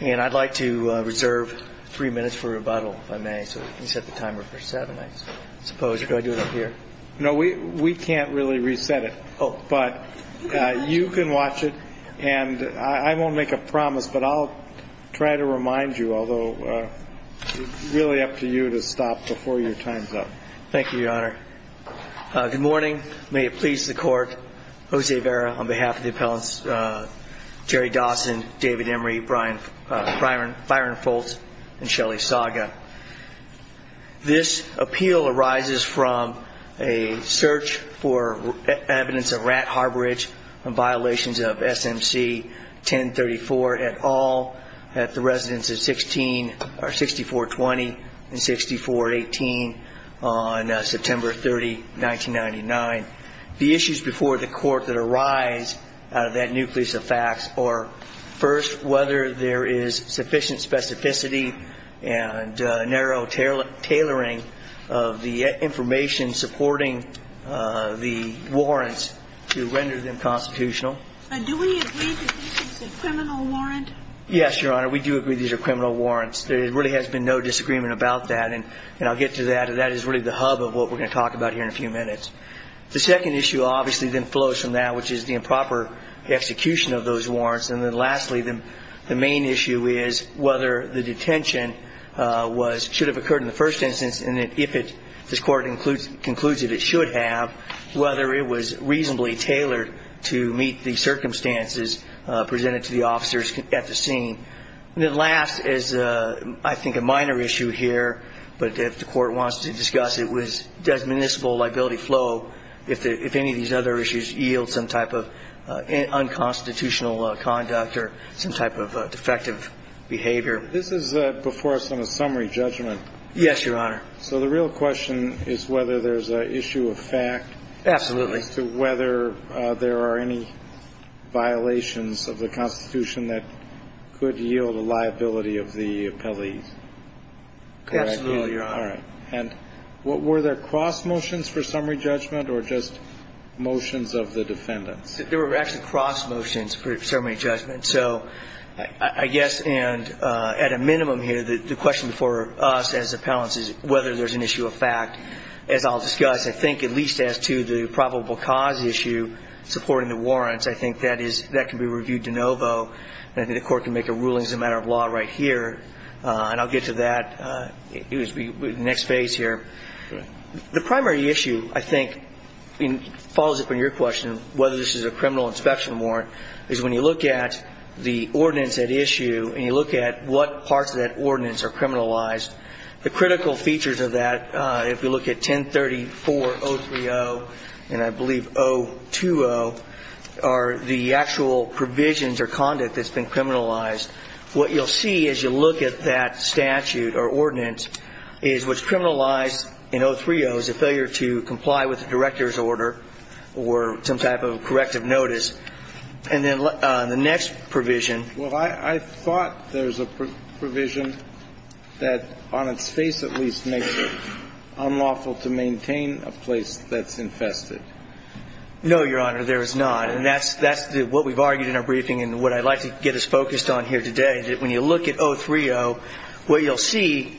and I'd like to reserve three minutes for rebuttal if I may, so you can set the timer for seven, I suppose, or do I do it up here? No, we can't really reset it, but you can watch it, and I won't make a promise, but I'll try to remind you, although it's really up to you to stop before your time's up. Thank you, Your Honor. Good morning. May it please the Court. Jose Vera on behalf of the appellants Jerry Dawson, David Emery, Byron Foltz, and Shelley Saga. This appeal arises from a search for evidence of rat harborage and violations of SMC 1034 et al. at the residence of 6420 and 6418 on September 30, 1999. The issues before the Court that arise out of that nucleus of facts are, first, whether there is sufficient specificity and narrow tailoring of the information supporting the warrants to render them constitutional. Do we agree that this is a criminal warrant? Yes, Your Honor, we do agree these are criminal warrants. There really has been no disagreement about that, and I'll get to that. That is really the hub of what we're going to talk about here in a few minutes. The second issue obviously then flows from that, which is the improper execution of those warrants, and then lastly, the main issue is whether the detention should have occurred in the first instance, and if this Court concludes that it should have, whether it was reasonably tailored to meet the circumstances presented to the officers at the scene. And then last is, I think, a minor issue here, but if the Court wants to discuss it, does municipal liability flow if any of these other issues yield some type of unconstitutional conduct or some type of defective behavior? This is before us on a summary judgment. Yes, Your Honor. So the real question is whether there's an issue of fact. Absolutely. As to whether there are any violations of the Constitution that could yield a liability of the appellees. Absolutely, Your Honor. All right. And were there cross motions for summary judgment or just motions of the defendants? There were actually cross motions for summary judgment. So I guess at a minimum here, the question for us as appellants is whether there's an issue of fact. As I'll discuss, I think at least as to the probable cause issue supporting the warrants, I think that can be reviewed de novo, and I think the Court can make a ruling as a matter of law right here, and I'll get to that in the next phase here. The primary issue, I think, follows up on your question, whether this is a criminal inspection warrant, is when you look at the ordinance at issue and you look at what parts of that ordinance are criminalized, the critical features of that, if you look at 1034.030 and I believe 0.2.0 are the actual provisions or conduct that's been criminalized. What you'll see as you look at that statute or ordinance is what's criminalized in 0.3.0 is a failure to comply with the director's order or some type of corrective notice. And then the next provision. Well, I thought there's a provision that on its face at least makes it unlawful to maintain a place that's infested. No, Your Honor, there is not. And that's what we've argued in our briefing and what I'd like to get us focused on here today, that when you look at 0.3.0, what you'll see,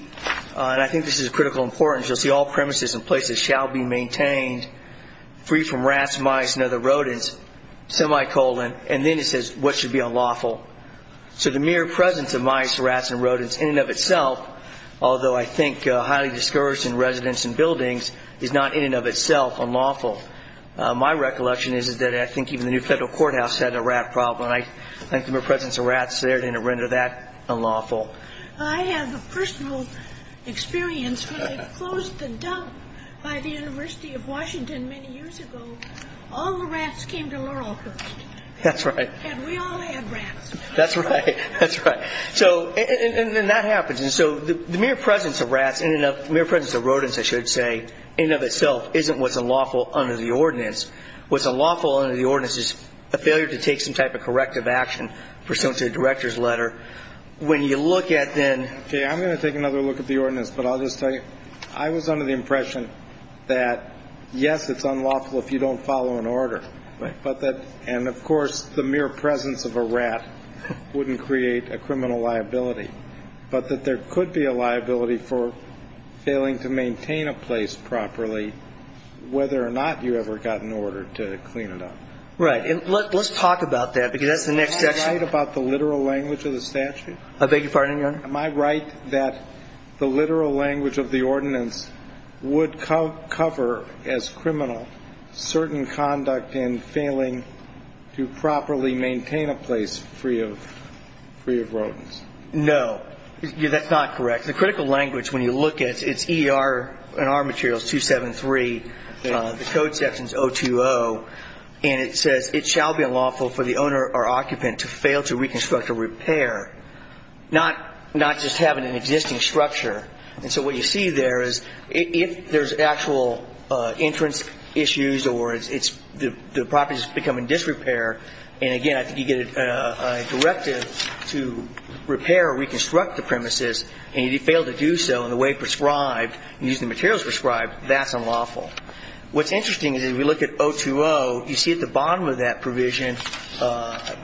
and I think this is of critical importance, you'll see all premises and places shall be maintained free from rats, mice, and other rodents, semicolon, and then it says what should be unlawful. So the mere presence of mice, rats, and rodents in and of itself, although I think highly discouraged in residents and buildings, is not in and of itself unlawful. My recollection is that I think even the new federal courthouse had a rat problem. I think the mere presence of rats there didn't render that unlawful. I have a personal experience where they closed the dump by the University of Washington many years ago. All the rats came to Laurelhurst. That's right. And we all had rats. That's right. That's right. And that happens. And so the mere presence of rats, the mere presence of rodents, I should say, in and of itself, isn't what's unlawful under the ordinance. What's unlawful under the ordinance is a failure to take some type of corrective action pursuant to a director's letter. When you look at then. Okay. I'm going to take another look at the ordinance, but I'll just tell you. I was under the impression that, yes, it's unlawful if you don't follow an order. Right. And, of course, the mere presence of a rat wouldn't create a criminal liability, but that there could be a liability for failing to maintain a place properly, whether or not you ever got an order to clean it up. Right. And let's talk about that, because that's the next section. Am I right about the literal language of the statute? I beg your pardon, Your Honor? Am I right that the literal language of the ordinance would cover, as criminal, certain conduct in failing to properly maintain a place free of rodents? No. That's not correct. The critical language, when you look at it, it's ER, and our material is 273. The code section is 020. And it says, It shall be unlawful for the owner or occupant to fail to reconstruct or repair, not just having an existing structure. And so what you see there is if there's actual entrance issues or the property is becoming disrepair, and, again, I think you get a directive to repair or reconstruct the premises, and you fail to do so in the way prescribed, using the materials prescribed, that's unlawful. What's interesting is if you look at 020, you see at the bottom of that provision,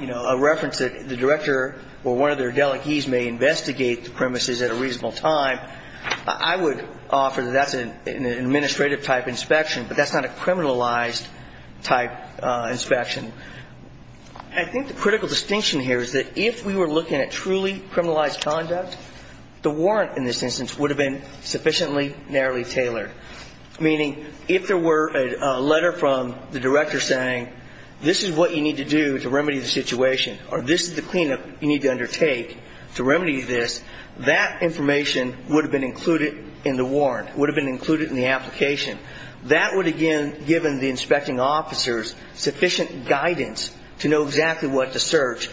you know, a reference that the director or one of their delegees may investigate the premises at a reasonable time. I would offer that that's an administrative-type inspection, but that's not a criminalized-type inspection. I think the critical distinction here is that if we were looking at truly criminalized conduct, the warrant in this instance would have been sufficiently narrowly tailored, meaning if there were a letter from the director saying, this is what you need to do to remedy the situation or this is the cleanup you need to undertake to remedy this, that information would have been included in the warrant, would have been included in the application. That would, again, given the inspecting officers sufficient guidance to know exactly what to search,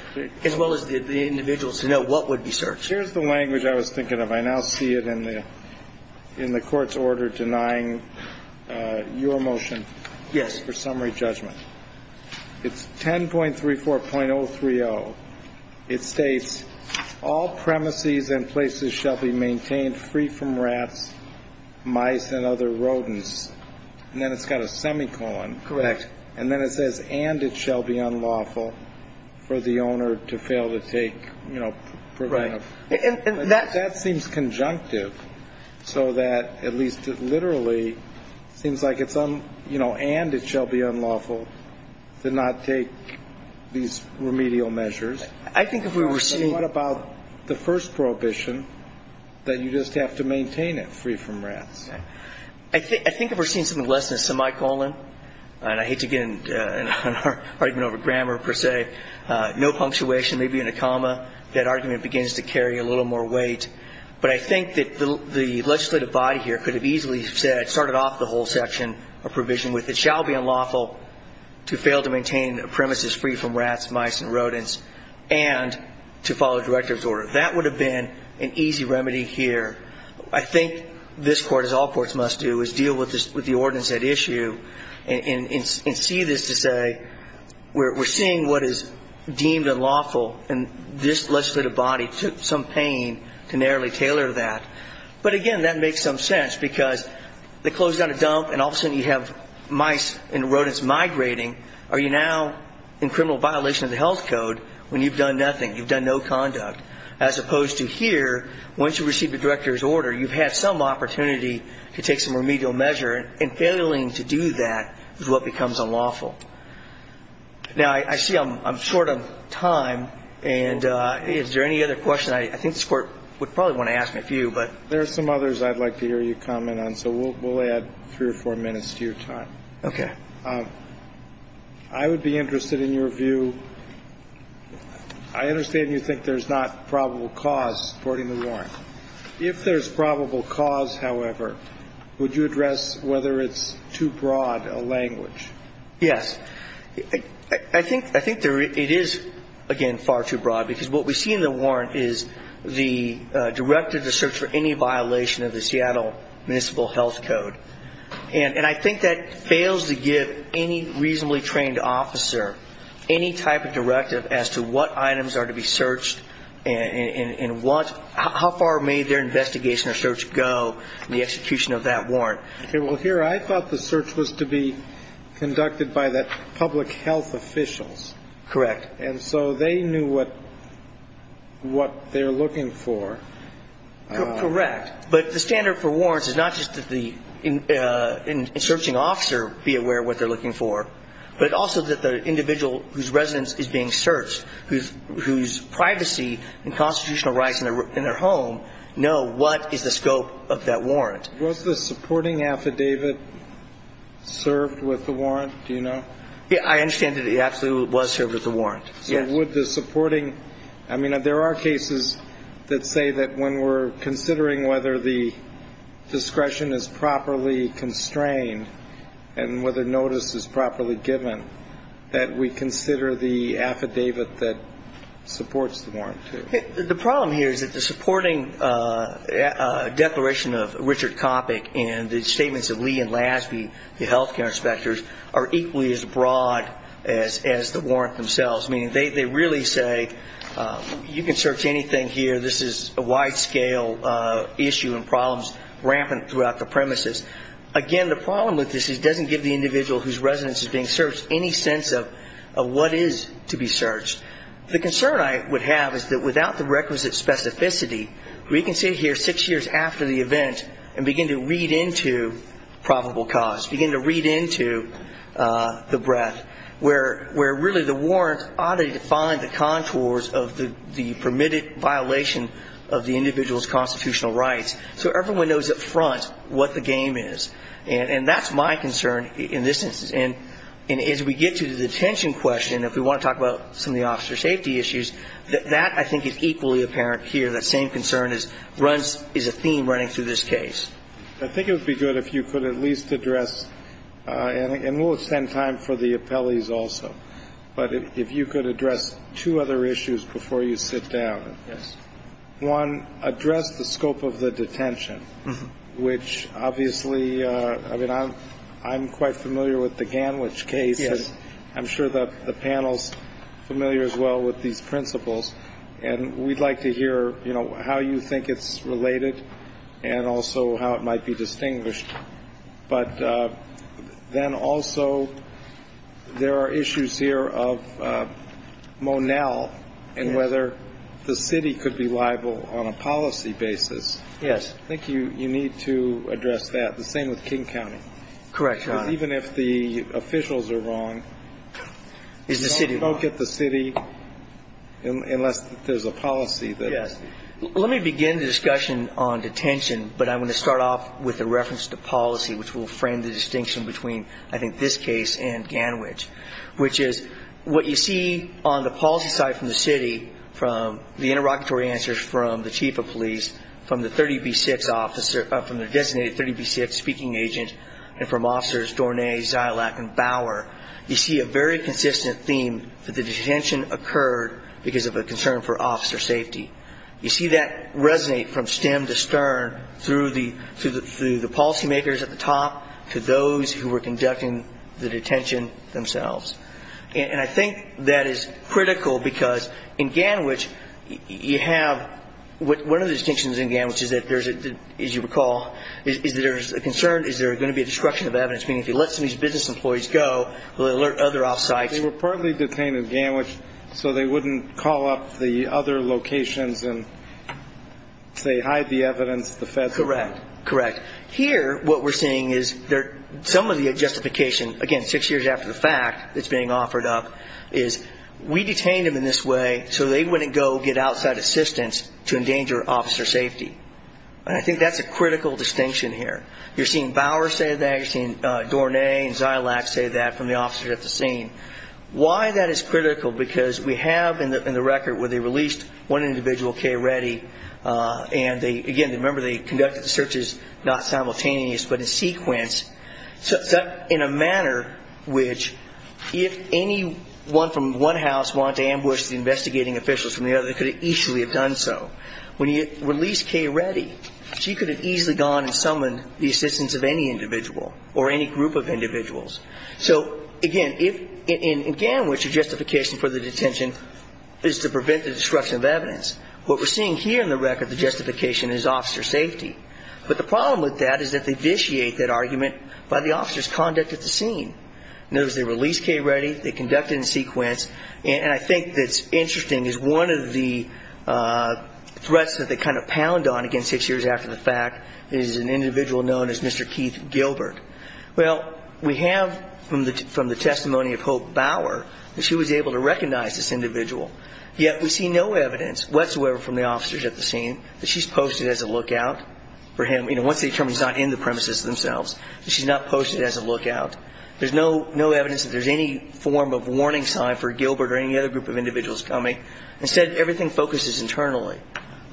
as well as the individuals to know what would be searched. Here's the language I was thinking of. I now see it in the court's order denying your motion. For summary judgment. It's 10.34.030. It states, all premises and places shall be maintained free from rats, mice and other rodents. And then it's got a semicolon. And then it says, and it shall be unlawful for the owner to fail to take, you know, preventive. Right. And that seems conjunctive so that at least it literally seems like it's, you know, and it shall be unlawful to not take these remedial measures. I think if we were seeing. What about the first prohibition that you just have to maintain it free from rats? I think if we're seeing something less than a semicolon, and I hate to get into an argument over grammar per se, no punctuation, maybe in a comma, that argument begins to carry a little more weight. But I think that the legislative body here could have easily said, started off the whole section of provision with, it shall be unlawful to fail to maintain premises free from rats, mice and rodents, and to follow director's order. That would have been an easy remedy here. I think this court, as all courts must do, is deal with the ordinance at issue and see this to say, we're seeing what is deemed unlawful. And this legislative body took some pain to narrowly tailor that. But, again, that makes some sense because they close down a dump and all of a sudden you have mice and rodents migrating. Are you now in criminal violation of the health code when you've done nothing, you've done no conduct? As opposed to here, once you receive the director's order, you've had some opportunity to take some remedial measure, and failing to do that is what becomes unlawful. Now, I see I'm short of time. And is there any other questions? I think this Court would probably want to ask a few, but. There are some others I'd like to hear you comment on, so we'll add three or four minutes to your time. Okay. I would be interested in your view. I understand you think there's not probable cause supporting the warrant. If there's probable cause, however, would you address whether it's too broad a language? Yes. I think it is, again, far too broad, because what we see in the warrant is the director to search for any violation of the Seattle Municipal Health Code. And I think that fails to give any reasonably trained officer any type of directive as to what items are to be searched and how far may their investigation or search go in the execution of that warrant. Okay. Well, here I thought the search was to be conducted by the public health officials. Correct. And so they knew what they were looking for. Correct. But the standard for warrants is not just that the searching officer be aware of what they're looking for, but also that the individual whose residence is being searched, whose privacy and constitutional rights in their home know what is the scope of that warrant. Was the supporting affidavit served with the warrant? Do you know? I understand that it absolutely was served with the warrant. Yes. So would the supporting – I mean, there are cases that say that when we're considering whether the discretion is properly constrained and whether notice is properly given, that we consider the affidavit that supports the warrant, too. The problem here is that the supporting declaration of Richard Coppock and the statements of Lee and Lasby, the health care inspectors, are equally as broad as the warrant themselves. I mean, they really say you can search anything here. This is a wide-scale issue and problems rampant throughout the premises. Again, the problem with this is it doesn't give the individual whose residence is being searched any sense of what is to be searched. The concern I would have is that without the requisite specificity, we can sit here six years after the event and begin to read into probable cause, begin to read into the breadth where really the warrant ought to define the contours of the permitted violation of the individual's constitutional rights so everyone knows up front what the game is. And that's my concern in this instance. And as we get to the detention question, if we want to talk about some of the officer safety issues, that I think is equally apparent here. That same concern is a theme running through this case. I think it would be good if you could at least address, and we'll extend time for the appellees also, but if you could address two other issues before you sit down. Yes. One, address the scope of the detention, which obviously, I mean, I'm quite familiar with the Ganwich case. I'm sure the panel's familiar as well with these principles. And we'd like to hear, you know, how you think it's related and also how it might be distinguished. But then also there are issues here of Monell and whether the city could be liable on a policy basis. Yes. I think you need to address that. The same with King County. Correct, Your Honor. Because even if the officials are wrong, don't poke at the city unless there's a policy that is. Let me begin the discussion on detention, but I'm going to start off with a reference to policy, which will frame the distinction between, I think, this case and Ganwich, which is what you see on the policy side from the city, from the interrogatory answers from the chief of police, from the designated 30B6 speaking agent, and from officers Dornay, Zylack, and Bauer. You see a very consistent theme that the detention occurred because of a concern for officer safety. You see that resonate from stem to stern through the policymakers at the top to those who were conducting the detention themselves. And I think that is critical because in Ganwich, you have one of the distinctions in Ganwich is that there's a, as you recall, is there's a concern, is there going to be a destruction of evidence, meaning if you let some of these business employees go, they'll alert other off sites. They were partly detained in Ganwich so they wouldn't call up the other locations and, say, hide the evidence, the feds. Correct. Correct. Here, what we're seeing is some of the justification, again, six years after the fact it's being offered up, is we detained them in this way so they wouldn't go get outside assistance to endanger officer safety. And I think that's a critical distinction here. You're seeing Bauer say that. You're seeing Dornay and Zylack say that from the officers at the scene. Why that is critical, because we have in the record where they released one individual, Kay Reddy, and, again, remember they conducted the searches not simultaneous but in sequence, in a manner which if anyone from one house wanted to ambush the investigating officials from the other, they could have easily have done so. When you release Kay Reddy, she could have easily gone and summoned the assistance of any individual or any group of individuals. So, again, in Ganwich, the justification for the detention is to prevent the destruction of evidence. What we're seeing here in the record, the justification, is officer safety. But the problem with that is that they vitiate that argument by the officer's conduct at the scene. In other words, they released Kay Reddy, they conducted in sequence, and I think that's interesting is one of the threats that they kind of pound on, again, six years after the fact is an individual known as Mr. Keith Gilbert. Well, we have from the testimony of Hope Bauer that she was able to recognize this individual, yet we see no evidence. There's no evidence whatsoever from the officers at the scene that she's posted as a lookout for him, you know, once they determine he's not in the premises themselves, that she's not posted as a lookout. There's no evidence that there's any form of warning sign for Gilbert or any other group of individuals coming. Instead, everything focuses internally.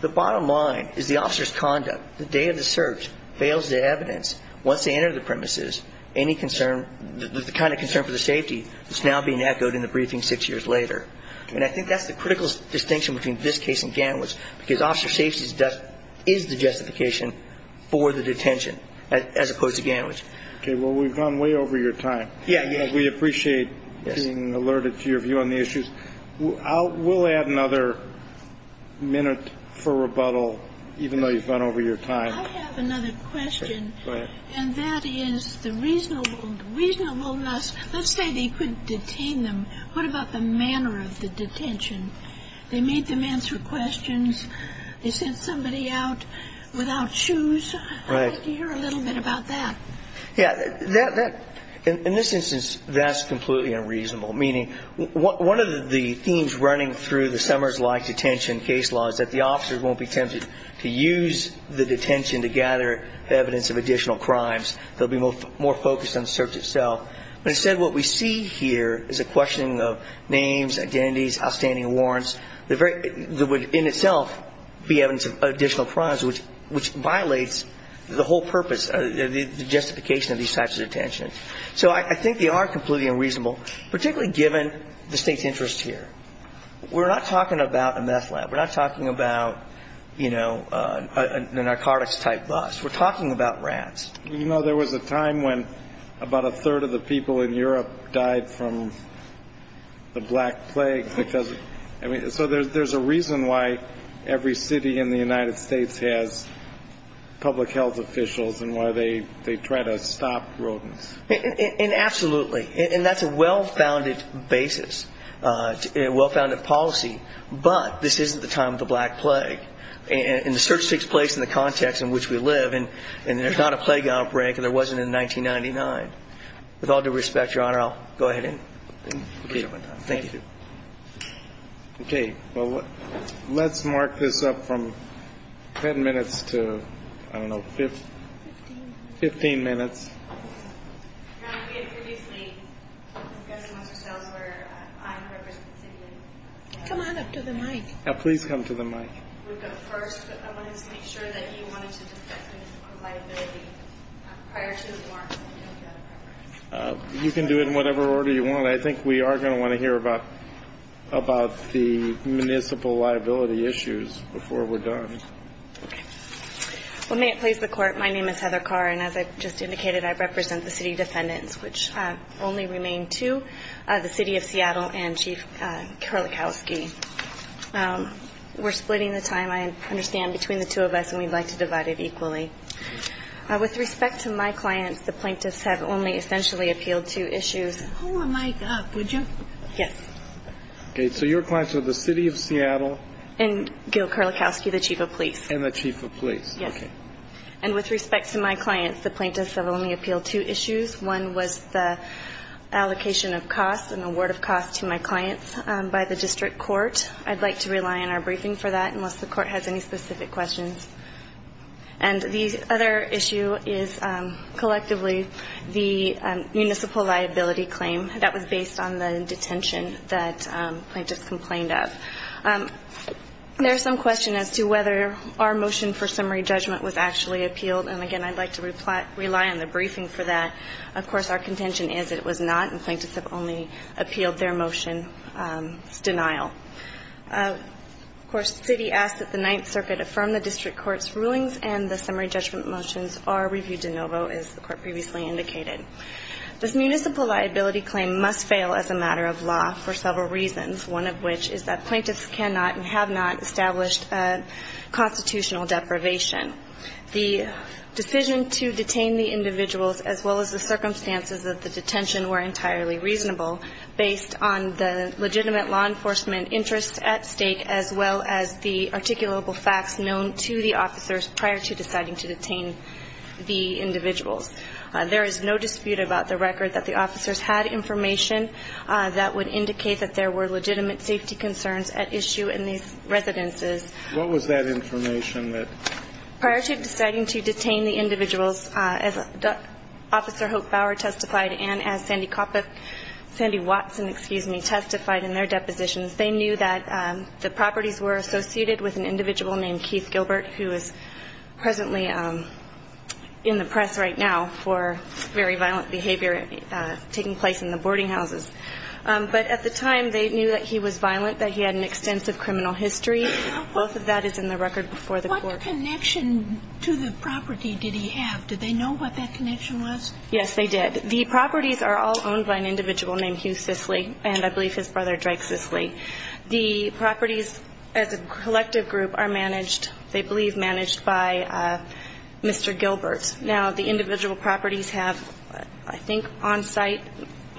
The bottom line is the officer's conduct the day of the search fails to evidence once they enter the premises any concern, the kind of concern for the safety that's now being echoed in the briefing six years later. And I think that's the critical distinction between this case and Gantwich, because officer safety is the justification for the detention, as opposed to Gantwich. Okay. Well, we've gone way over your time. Yeah. We appreciate being alerted to your view on the issues. We'll add another minute for rebuttal, even though you've gone over your time. I have another question. Go ahead. And that is the reasonableness. Let's say they couldn't detain them. What about the manner of the detention? They made them answer questions. They sent somebody out without shoes. I'd like to hear a little bit about that. Yeah. In this instance, that's completely unreasonable, meaning one of the themes running through the Summers-like detention case law is that the officers won't be tempted to use the detention to gather evidence of additional crimes. They'll be more focused on the search itself. But instead, what we see here is a questioning of names, identities, outstanding warrants. There would in itself be evidence of additional crimes, which violates the whole purpose of the justification of these types of detentions. So I think they are completely unreasonable, particularly given the State's interest here. We're not talking about a meth lab. We're not talking about, you know, a narcotics-type bus. We're talking about rats. You know, there was a time when about a third of the people in Europe died from the Black Plague. So there's a reason why every city in the United States has public health officials and why they try to stop rodents. And absolutely. And that's a well-founded basis, a well-founded policy. But this isn't the time of the Black Plague. And the search takes place in the context in which we live. And there's not a plague outbreak, and there wasn't in 1999. With all due respect, Your Honor, I'll go ahead and conclude my time. Thank you. Okay. Well, let's mark this up from 10 minutes to, I don't know, 15 minutes. Your Honor, we had previously discussed amongst ourselves where I'm representing the city. Come on up to the mic. Please come to the mic. First, I wanted to make sure that you wanted to discuss municipal liability prior to the remarks. You can do it in whatever order you want. I think we are going to want to hear about the municipal liability issues before we're done. Okay. Well, may it please the Court, my name is Heather Carr. And as I just indicated, I represent the city defendants, which only remain two, the city of Seattle and Chief Karlikowski. We're splitting the time, I understand, between the two of us, and we'd like to divide it equally. With respect to my clients, the plaintiffs have only essentially appealed to issues. Hold the mic up, would you? Yes. Okay. So your clients are the city of Seattle. And Gil Karlikowski, the chief of police. And the chief of police. Yes. And with respect to my clients, the plaintiffs have only appealed to issues. One was the allocation of costs, an award of costs to my clients by the district court. I'd like to rely on our briefing for that unless the court has any specific questions. And the other issue is collectively the municipal liability claim that was based on the detention that plaintiffs complained of. There's some question as to whether our motion for summary judgment was actually appealed. And, again, I'd like to rely on the briefing for that. Of course, our contention is it was not, and plaintiffs have only appealed their motion's denial. Of course, the city asked that the Ninth Circuit affirm the district court's rulings and the summary judgment motions are reviewed de novo, as the court previously indicated. This municipal liability claim must fail as a matter of law for several reasons, one of which is that plaintiffs cannot and have not established a constitutional deprivation. The decision to detain the individuals, as well as the circumstances of the detention, were entirely reasonable, based on the legitimate law enforcement interests at stake, as well as the articulable facts known to the officers prior to deciding to detain the individuals. There is no dispute about the record that the officers had information that would indicate that there were legitimate safety concerns at issue in these residences. What was that information that? Prior to deciding to detain the individuals, as Officer Hope Bower testified and as Sandy Coppock, Sandy Watson, excuse me, testified in their depositions, they knew that the properties were associated with an individual named Keith Gilbert, who is presently in the press right now for very violent behavior taking place in the boarding houses. But at the time, they knew that he was violent, that he had an extensive criminal history. Both of that is in the record before the court. What connection to the property did he have? Did they know what that connection was? Yes, they did. The properties are all owned by an individual named Hugh Sisley, and I believe his brother Drake Sisley. The properties as a collective group are managed, they believe, managed by Mr. Gilbert. Now, the individual properties have, I think, on-site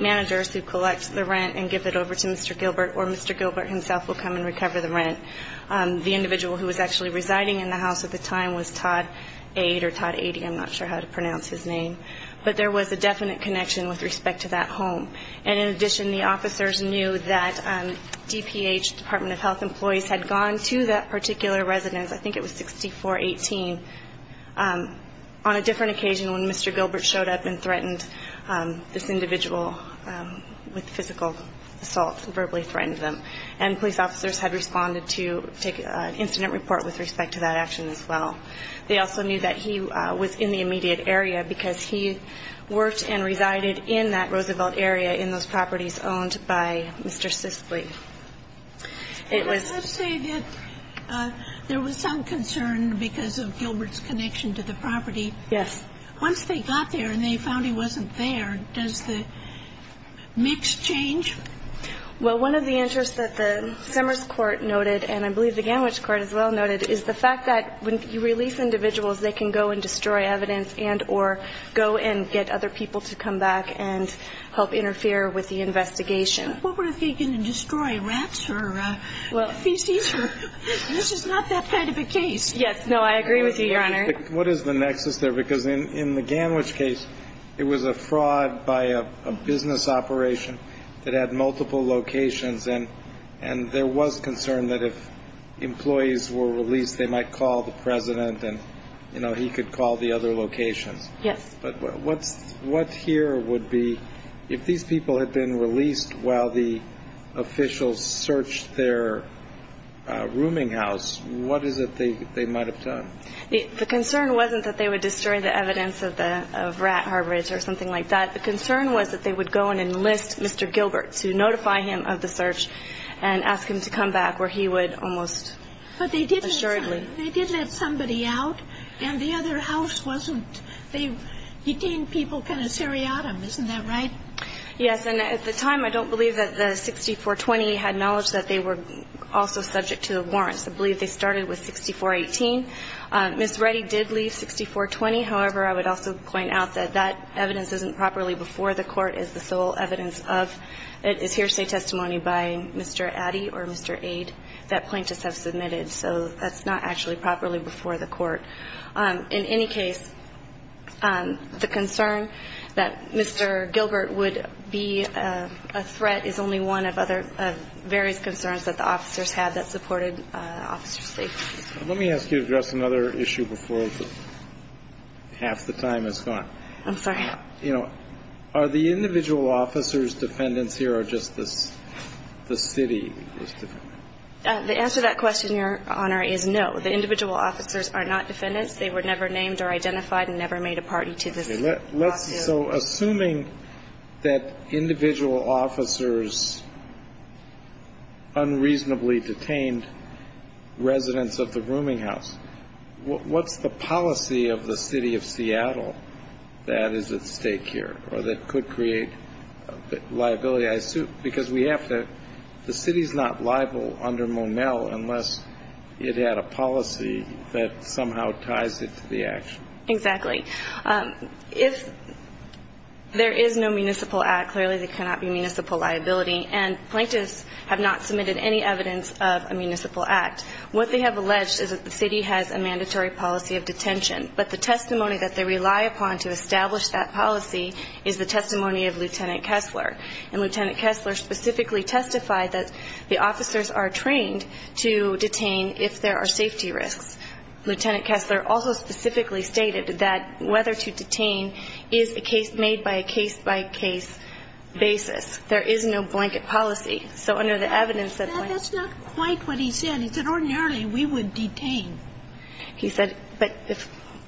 managers who collect the rent and give it over to Mr. Gilbert, or Mr. Gilbert himself will come and recover the rent. The individual who was actually residing in the house at the time was Todd Aide, or Todd Aide, I'm not sure how to pronounce his name. But there was a definite connection with respect to that home. And in addition, the officers knew that DPH, Department of Health employees, had gone to that particular residence, I think it was 6418, on a different occasion when Mr. Gilbert showed up and threatened this individual with physical assault, verbally threatened them. And police officers had responded to take an incident report with respect to that action as well. They also knew that he was in the immediate area because he worked and resided in that Roosevelt area in those properties owned by Mr. Sisley. It was ---- Let's say that there was some concern because of Gilbert's connection to the property. Yes. Once they got there and they found he wasn't there, does the mix change? Well, one of the interests that the Summers Court noted, and I believe the Ganwich Court as well noted, is the fact that when you release individuals, they can go and destroy evidence and or go and get other people to come back and help interfere with the investigation. What if they're going to destroy rats or feces? This is not that kind of a case. Yes. No, I agree with you, Your Honor. What is the nexus there? Because in the Ganwich case, it was a fraud by a business operation that had multiple locations. And there was concern that if employees were released, they might call the president and he could call the other locations. Yes. But what here would be if these people had been released while the officials searched their rooming house, what is it they might have done? The concern wasn't that they would destroy the evidence of rat harbors or something like that. The concern was that they would go and enlist Mr. Gilbert to notify him of the search and ask him to come back where he would almost assuredly. But they did let somebody out, and the other house wasn't. They detained people kind of seriatim. Isn't that right? Yes. And at the time, I don't believe that the 6420 had knowledge that they were also subject to a warrant. I believe they started with 6418. Ms. Reddy did leave 6420. However, I would also point out that that evidence isn't properly before the court as the sole evidence of it is hearsay testimony by Mr. Addy or Mr. Aide that plaintiffs have submitted. So that's not actually properly before the court. In any case, the concern that Mr. Gilbert would be a threat is only one of other various concerns that the officers had that supported officer safety. Let me ask you to address another issue before half the time has gone. I'm sorry. You know, are the individual officers defendants here or just the city? The answer to that question, Your Honor, is no. The individual officers are not defendants. They were never named or identified and never made a party to this lawsuit. So assuming that individual officers unreasonably detained residents of the rooming house, what's the policy of the city of Seattle that is at stake here or that could create liability? Because we have to the city's not liable under Monel unless it had a policy that somehow ties it to the action. Exactly. If there is no municipal act, clearly there cannot be municipal liability. And plaintiffs have not submitted any evidence of a municipal act. What they have alleged is that the city has a mandatory policy of detention. But the testimony that they rely upon to establish that policy is the testimony of Lieutenant Kessler. And Lieutenant Kessler specifically testified that the officers are trained to detain if there are safety risks. Lieutenant Kessler also specifically stated that whether to detain is a case made by a case-by-case basis. There is no blanket policy. So under the evidence that the plaintiffs are trained to detain, there is no blanket That's not quite what he said. He said ordinarily we would detain. He said, but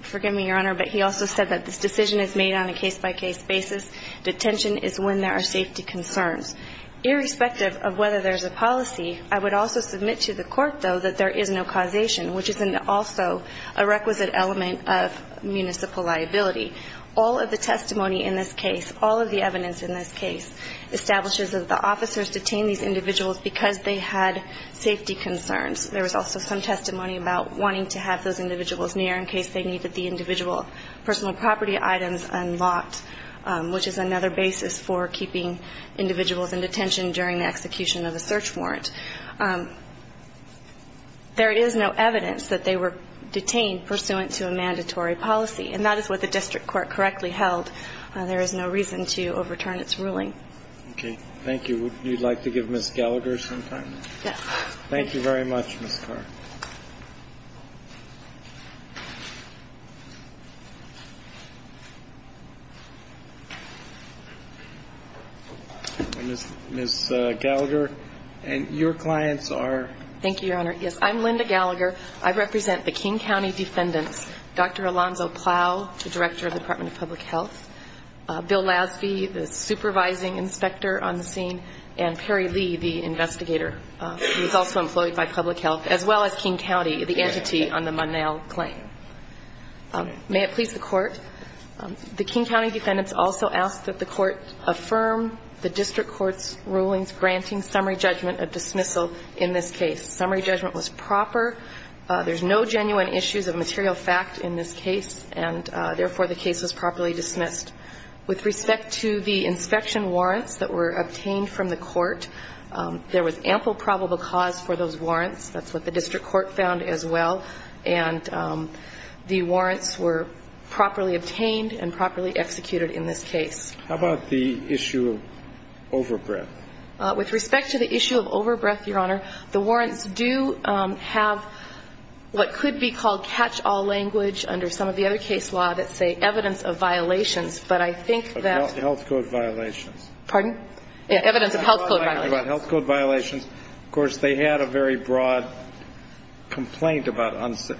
forgive me, Your Honor, but he also said that this decision is made on a case-by-case basis. Detention is when there are safety concerns. Irrespective of whether there's a policy, I would also submit to the Court, though, that there is no causation, which is also a requisite element of municipal liability. All of the testimony in this case, all of the evidence in this case, establishes that the officers detained these individuals because they had safety concerns. There was also some testimony about wanting to have those individuals near in case they needed the individual personal property items unlocked, which is another basis for keeping individuals in detention during the execution of a search warrant. There is no evidence that they were detained pursuant to a mandatory policy, and that is what the district court correctly held. There is no reason to overturn its ruling. Okay. Thank you. Would you like to give Ms. Gallagher some time? Yes. Thank you very much, Ms. Carr. Ms. Gallagher, your clients are? Thank you, Your Honor. Yes, I'm Linda Gallagher. I represent the King County Defendants, Dr. Alonzo Plow, the Director of the Department of Public Health, Bill Lasby, the Supervising Inspector on the scene, and Perry Lee, the Investigator, who is also employed by Public Health, as well as the Chief Justice of the Department of Public Health, as well as King County, the entity on the Munnell claim. May it please the Court. The King County Defendants also ask that the Court affirm the district court's rulings granting summary judgment of dismissal in this case. Summary judgment was proper. There's no genuine issues of material fact in this case, and therefore the case was properly dismissed. With respect to the inspection warrants that were obtained from the Court, there was ample probable cause for those warrants. That's what the district court found as well, and the warrants were properly obtained and properly executed in this case. How about the issue of over-breath? With respect to the issue of over-breath, Your Honor, the warrants do have what could be called catch-all language under some of the other case law that say evidence of violations, but I think that ---- Of health code violations. Pardon? Evidence of health code violations. About health code violations. Of course, they had a very broad complaint about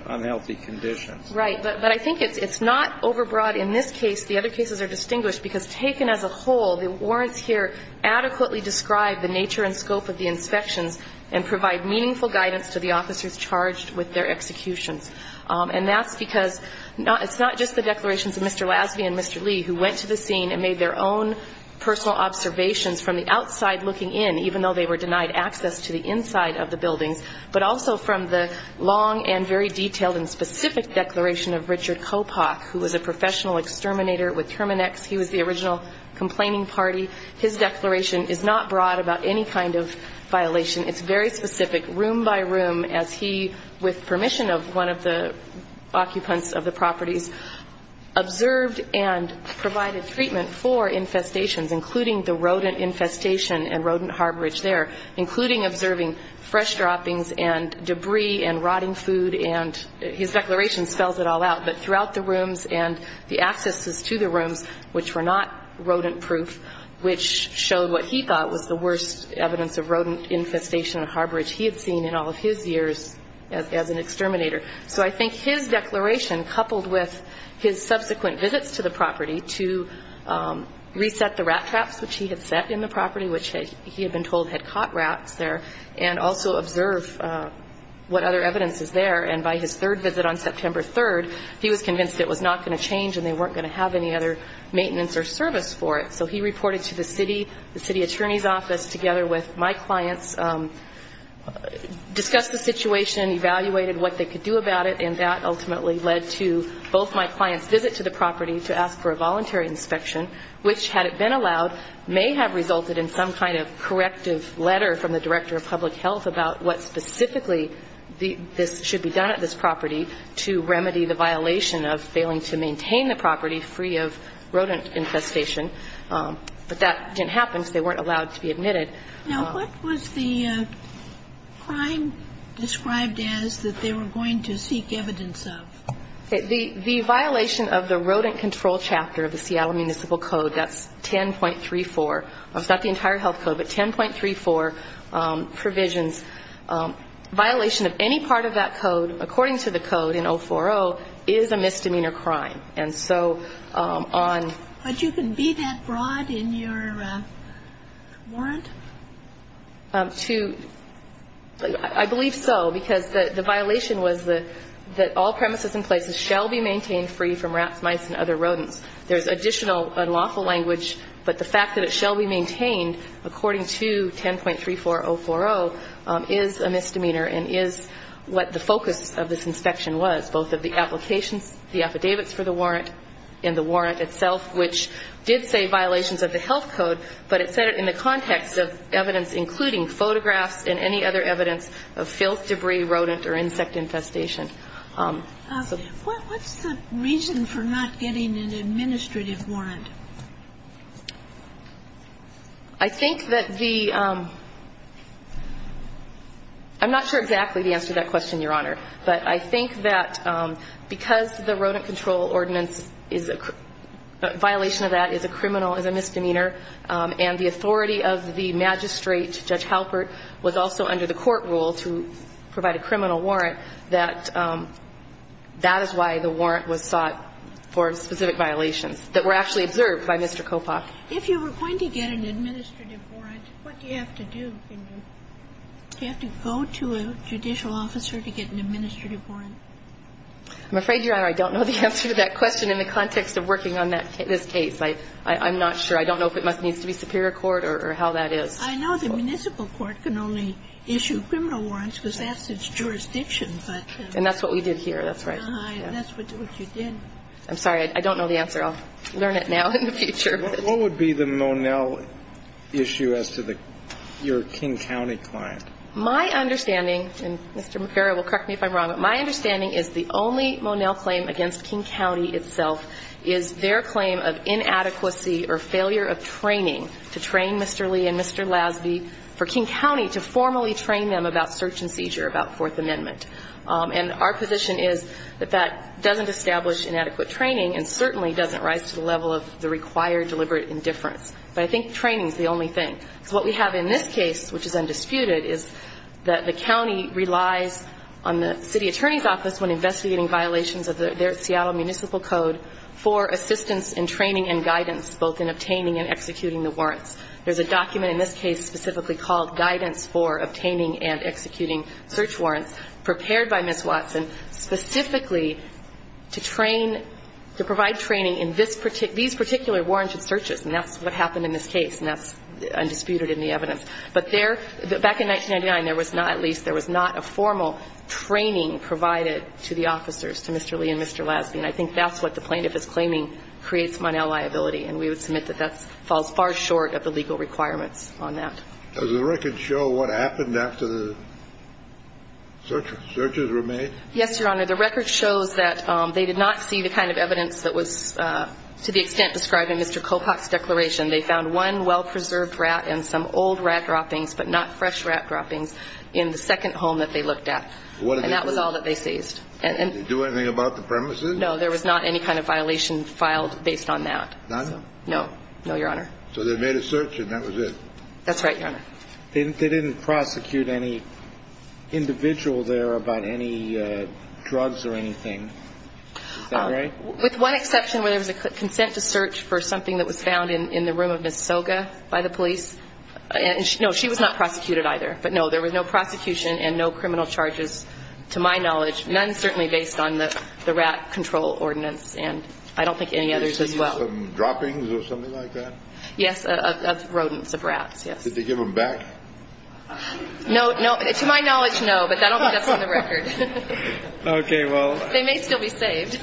unhealthy conditions. Right. But I think it's not over-breath in this case. The other cases are distinguished because taken as a whole, the warrants here adequately describe the nature and scope of the inspections and provide meaningful guidance to the officers charged with their executions. And that's because it's not just the declarations of Mr. Lasby and Mr. Lee who went to the scene and made their own personal observations from the outside looking in, even though they were denied access to the inside of the buildings, but also from the long and very detailed and specific declaration of Richard Kopach, who was a professional exterminator with Terminex. He was the original complaining party. His declaration is not broad about any kind of violation. It's very specific, room by room, as he, with permission of one of the occupants of the properties, observed and provided treatment for infestations, including the rodent infestation and rodent harborage there, including observing fresh droppings and debris and rotting food. And his declaration spells it all out. But throughout the rooms and the accesses to the rooms, which were not rodent-proof, which showed what he thought was the worst evidence of rodent infestation and harborage he had seen in all of his years as an exterminator. So I think his declaration, coupled with his subsequent visits to the property to reset the rat traps, which he had set in the property, which he had been told had caught rats there, and also observe what other evidence is there. And by his third visit on September 3rd, he was convinced it was not going to change and they weren't going to have any other maintenance or service for it. So he reported to the city, the city attorney's office, together with my clients, discussed the situation, evaluated what they could do about it, and that ultimately led to both my clients' visit to the property to ask for a voluntary inspection, which, had it been allowed, may have resulted in some kind of corrective letter from the director of public health about what specifically should be done at this property to remedy the violation of failing to maintain the property free of rodent infestation. But that didn't happen, so they weren't allowed to be admitted. Now, what was the crime described as that they were going to seek evidence of? The violation of the rodent control chapter of the Seattle Municipal Code, that's 10.34. It's not the entire health code, but 10.34 provisions. Violation of any part of that code, according to the code in 040, is a misdemeanor crime. But you can be that broad in your warrant? I believe so, because the violation was that all premises and places shall be maintained free from rats, mice, and other rodents. There's additional unlawful language, but the fact that it shall be maintained, according to 10.34040, is a misdemeanor and is what the focus of this inspection was, both of the applications, the affidavits for the warrant, and the warrant itself, which did say violations of the health code, but it said it in the context of evidence including photographs and any other evidence of filth, debris, rodent, or insect infestation. What's the reason for not getting an administrative warrant? I think that the ‑‑ I'm not sure exactly the answer to that question, Your Honor. But I think that because the rodent control ordinance is a violation of that, is a criminal, is a misdemeanor, and the authority of the magistrate, Judge Halpert, was also under the court rule to provide a criminal warrant, that that is why the warrant was sought for specific violations that were actually observed by Mr. Kopach. If you were going to get an administrative warrant, what do you have to do? Do you have to go to a judicial officer to get an administrative warrant? I'm afraid, Your Honor, I don't know the answer to that question in the context of working on this case. I'm not sure. I don't know if it needs to be superior court or how that is. I know the municipal court can only issue criminal warrants because that's its jurisdiction. And that's what we did here. That's right. That's what you did. I'm sorry. I don't know the answer. I'll learn it now in the future. What would be the Monell issue as to your King County client? My understanding, and Mr. McPhara will correct me if I'm wrong, but my understanding is the only Monell claim against King County itself is their claim of inadequacy or failure of training to train Mr. Lee and Mr. Lasby for King County to formally train them about search and seizure, about Fourth Amendment. And our position is that that doesn't establish inadequate training and certainly doesn't rise to the level of the required deliberate indifference. But I think training is the only thing. So what we have in this case, which is undisputed, is that the county relies on the city attorney's office when investigating violations of their Seattle Municipal Code for assistance in training and guidance, both in obtaining and executing the warrants. There's a document in this case specifically called Guidance for Obtaining and Executing Search Warrants, prepared by Ms. Watson, specifically to train, to provide training in these particular warranted searches. And that's what happened in this case, and that's undisputed in the evidence. But there, back in 1999, there was not, at least, there was not a formal training provided to the officers, to Mr. Lee and Mr. Lasby. And I think that's what the plaintiff is claiming creates Monell liability. And we would submit that that falls far short of the legal requirements on that. Does the record show what happened after the searches were made? Yes, Your Honor. The record shows that they did not see the kind of evidence that was, to the extent, describing Mr. Kopach's declaration. They found one well-preserved rat and some old rat droppings, but not fresh rat droppings in the second home that they looked at. And that was all that they seized. Did they do anything about the premises? No. There was not any kind of violation filed based on that. No. No, Your Honor. So they made a search, and that was it? That's right, Your Honor. They didn't prosecute any individual there about any drugs or anything. Is that right? With one exception where there was a consent to search for something that was found in the room of Ms. Soga by the police. No, she was not prosecuted either. But, no, there was no prosecution and no criminal charges to my knowledge, none certainly based on the rat control ordinance, and I don't think any others as well. Did they see some droppings or something like that? Yes, of rodents, of rats, yes. Did they give them back? No. No. To my knowledge, no, but that's on the record. Okay. Well. They may still be saved.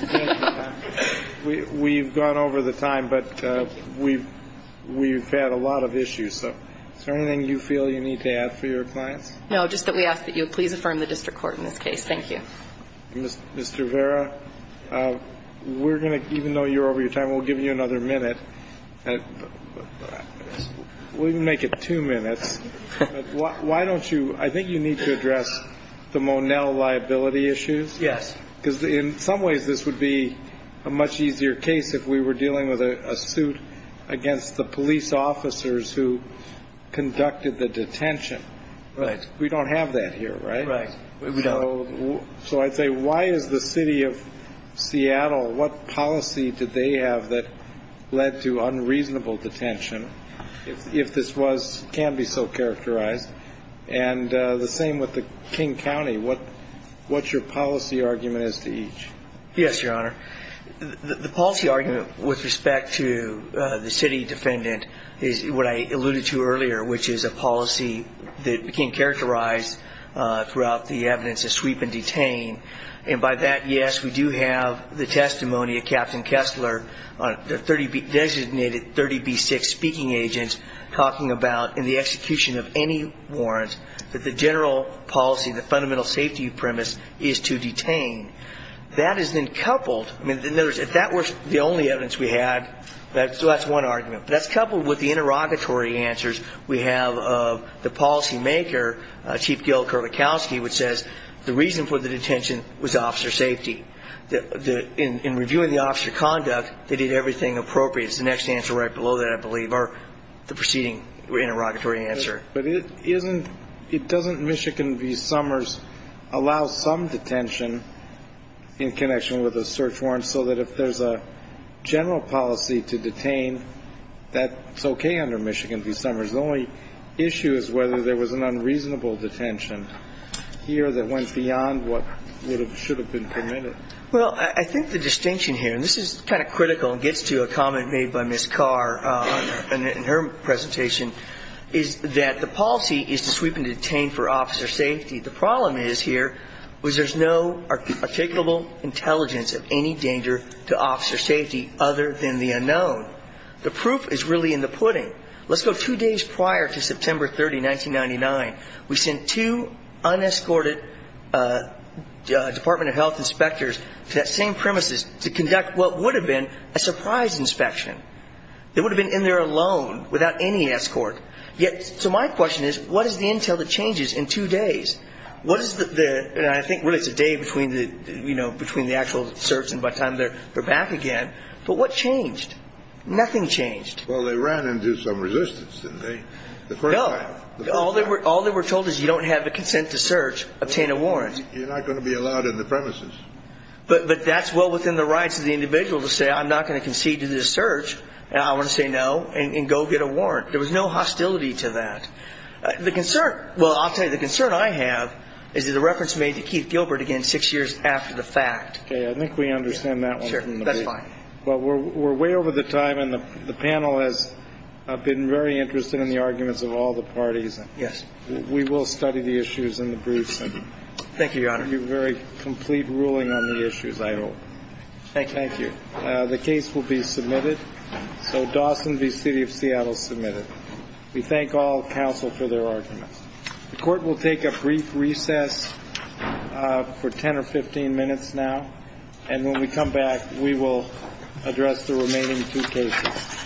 We've gone over the time, but we've had a lot of issues. Is there anything you feel you need to add for your clients? No, just that we ask that you please affirm the district court in this case. Thank you. Mr. Vera, we're going to, even though you're over your time, we'll give you another minute. We can make it two minutes. Why don't you, I think you need to address the Monell liability issues. Yes. Because in some ways this would be a much easier case if we were dealing with a suit against the police officers who conducted the detention. Right. We don't have that here, right? Right. We don't. So I'd say why is the City of Seattle, what policy did they have that led to unreasonable detention, if this was, can be so characterized? And the same with the King County. What's your policy argument as to each? Yes, Your Honor. The policy argument with respect to the city defendant is what I alluded to earlier, which is a policy that can characterize throughout the evidence a sweep and detain. And by that, yes, we do have the testimony of Captain Kessler, the designated 30B6 speaking agent, talking about in the execution of any warrant that the general policy, the fundamental safety premise is to detain. That is then coupled, in other words, if that were the only evidence we had, that's one argument. But that's coupled with the interrogatory answers we have of the policymaker, Chief Gil Kerlikowske, which says the reason for the detention was officer safety. In reviewing the officer conduct, they did everything appropriate. It's the next answer right below that, I believe, or the preceding interrogatory answer. But it doesn't Michigan v. Summers allow some detention in connection with a search warrant so that if there's a general policy to detain, that's okay under Michigan v. Summers. The only issue is whether there was an unreasonable detention here that went beyond what should have been permitted. Well, I think the distinction here, and this is kind of critical and gets to a comment made by Ms. Carr in her presentation, is that the policy is to sweep and detain for officer safety. The problem is here was there's no articulable intelligence of any danger to officer safety other than the unknown. The proof is really in the pudding. Let's go two days prior to September 30, 1999. We sent two unescorted Department of Health inspectors to that same premises to conduct what would have been a surprise inspection. They would have been in there alone without any escort. So my question is, what is the intel that changes in two days? What is the, and I think really it's a day between the actual search and by the time they're back again. But what changed? Nothing changed. Well, they ran into some resistance, didn't they? No. All they were told is you don't have the consent to search, obtain a warrant. You're not going to be allowed in the premises. But that's well within the rights of the individual to say I'm not going to concede to this search, and I want to say no, and go get a warrant. There was no hostility to that. The concern, well, I'll tell you, the concern I have is the reference made to Keith Gilbert again six years after the fact. Okay, I think we understand that one. Sure, that's fine. But we're way over the time, and the panel has been very interested in the arguments of all the parties. Yes. We will study the issues in the briefs. Thank you, Your Honor. You have a very complete ruling on the issues, I hope. Thank you. Thank you. The case will be submitted. So Dawson v. City of Seattle submitted. We thank all counsel for their arguments. The Court will take a brief recess for 10 or 15 minutes now, and when we come back, we will address the remaining two cases.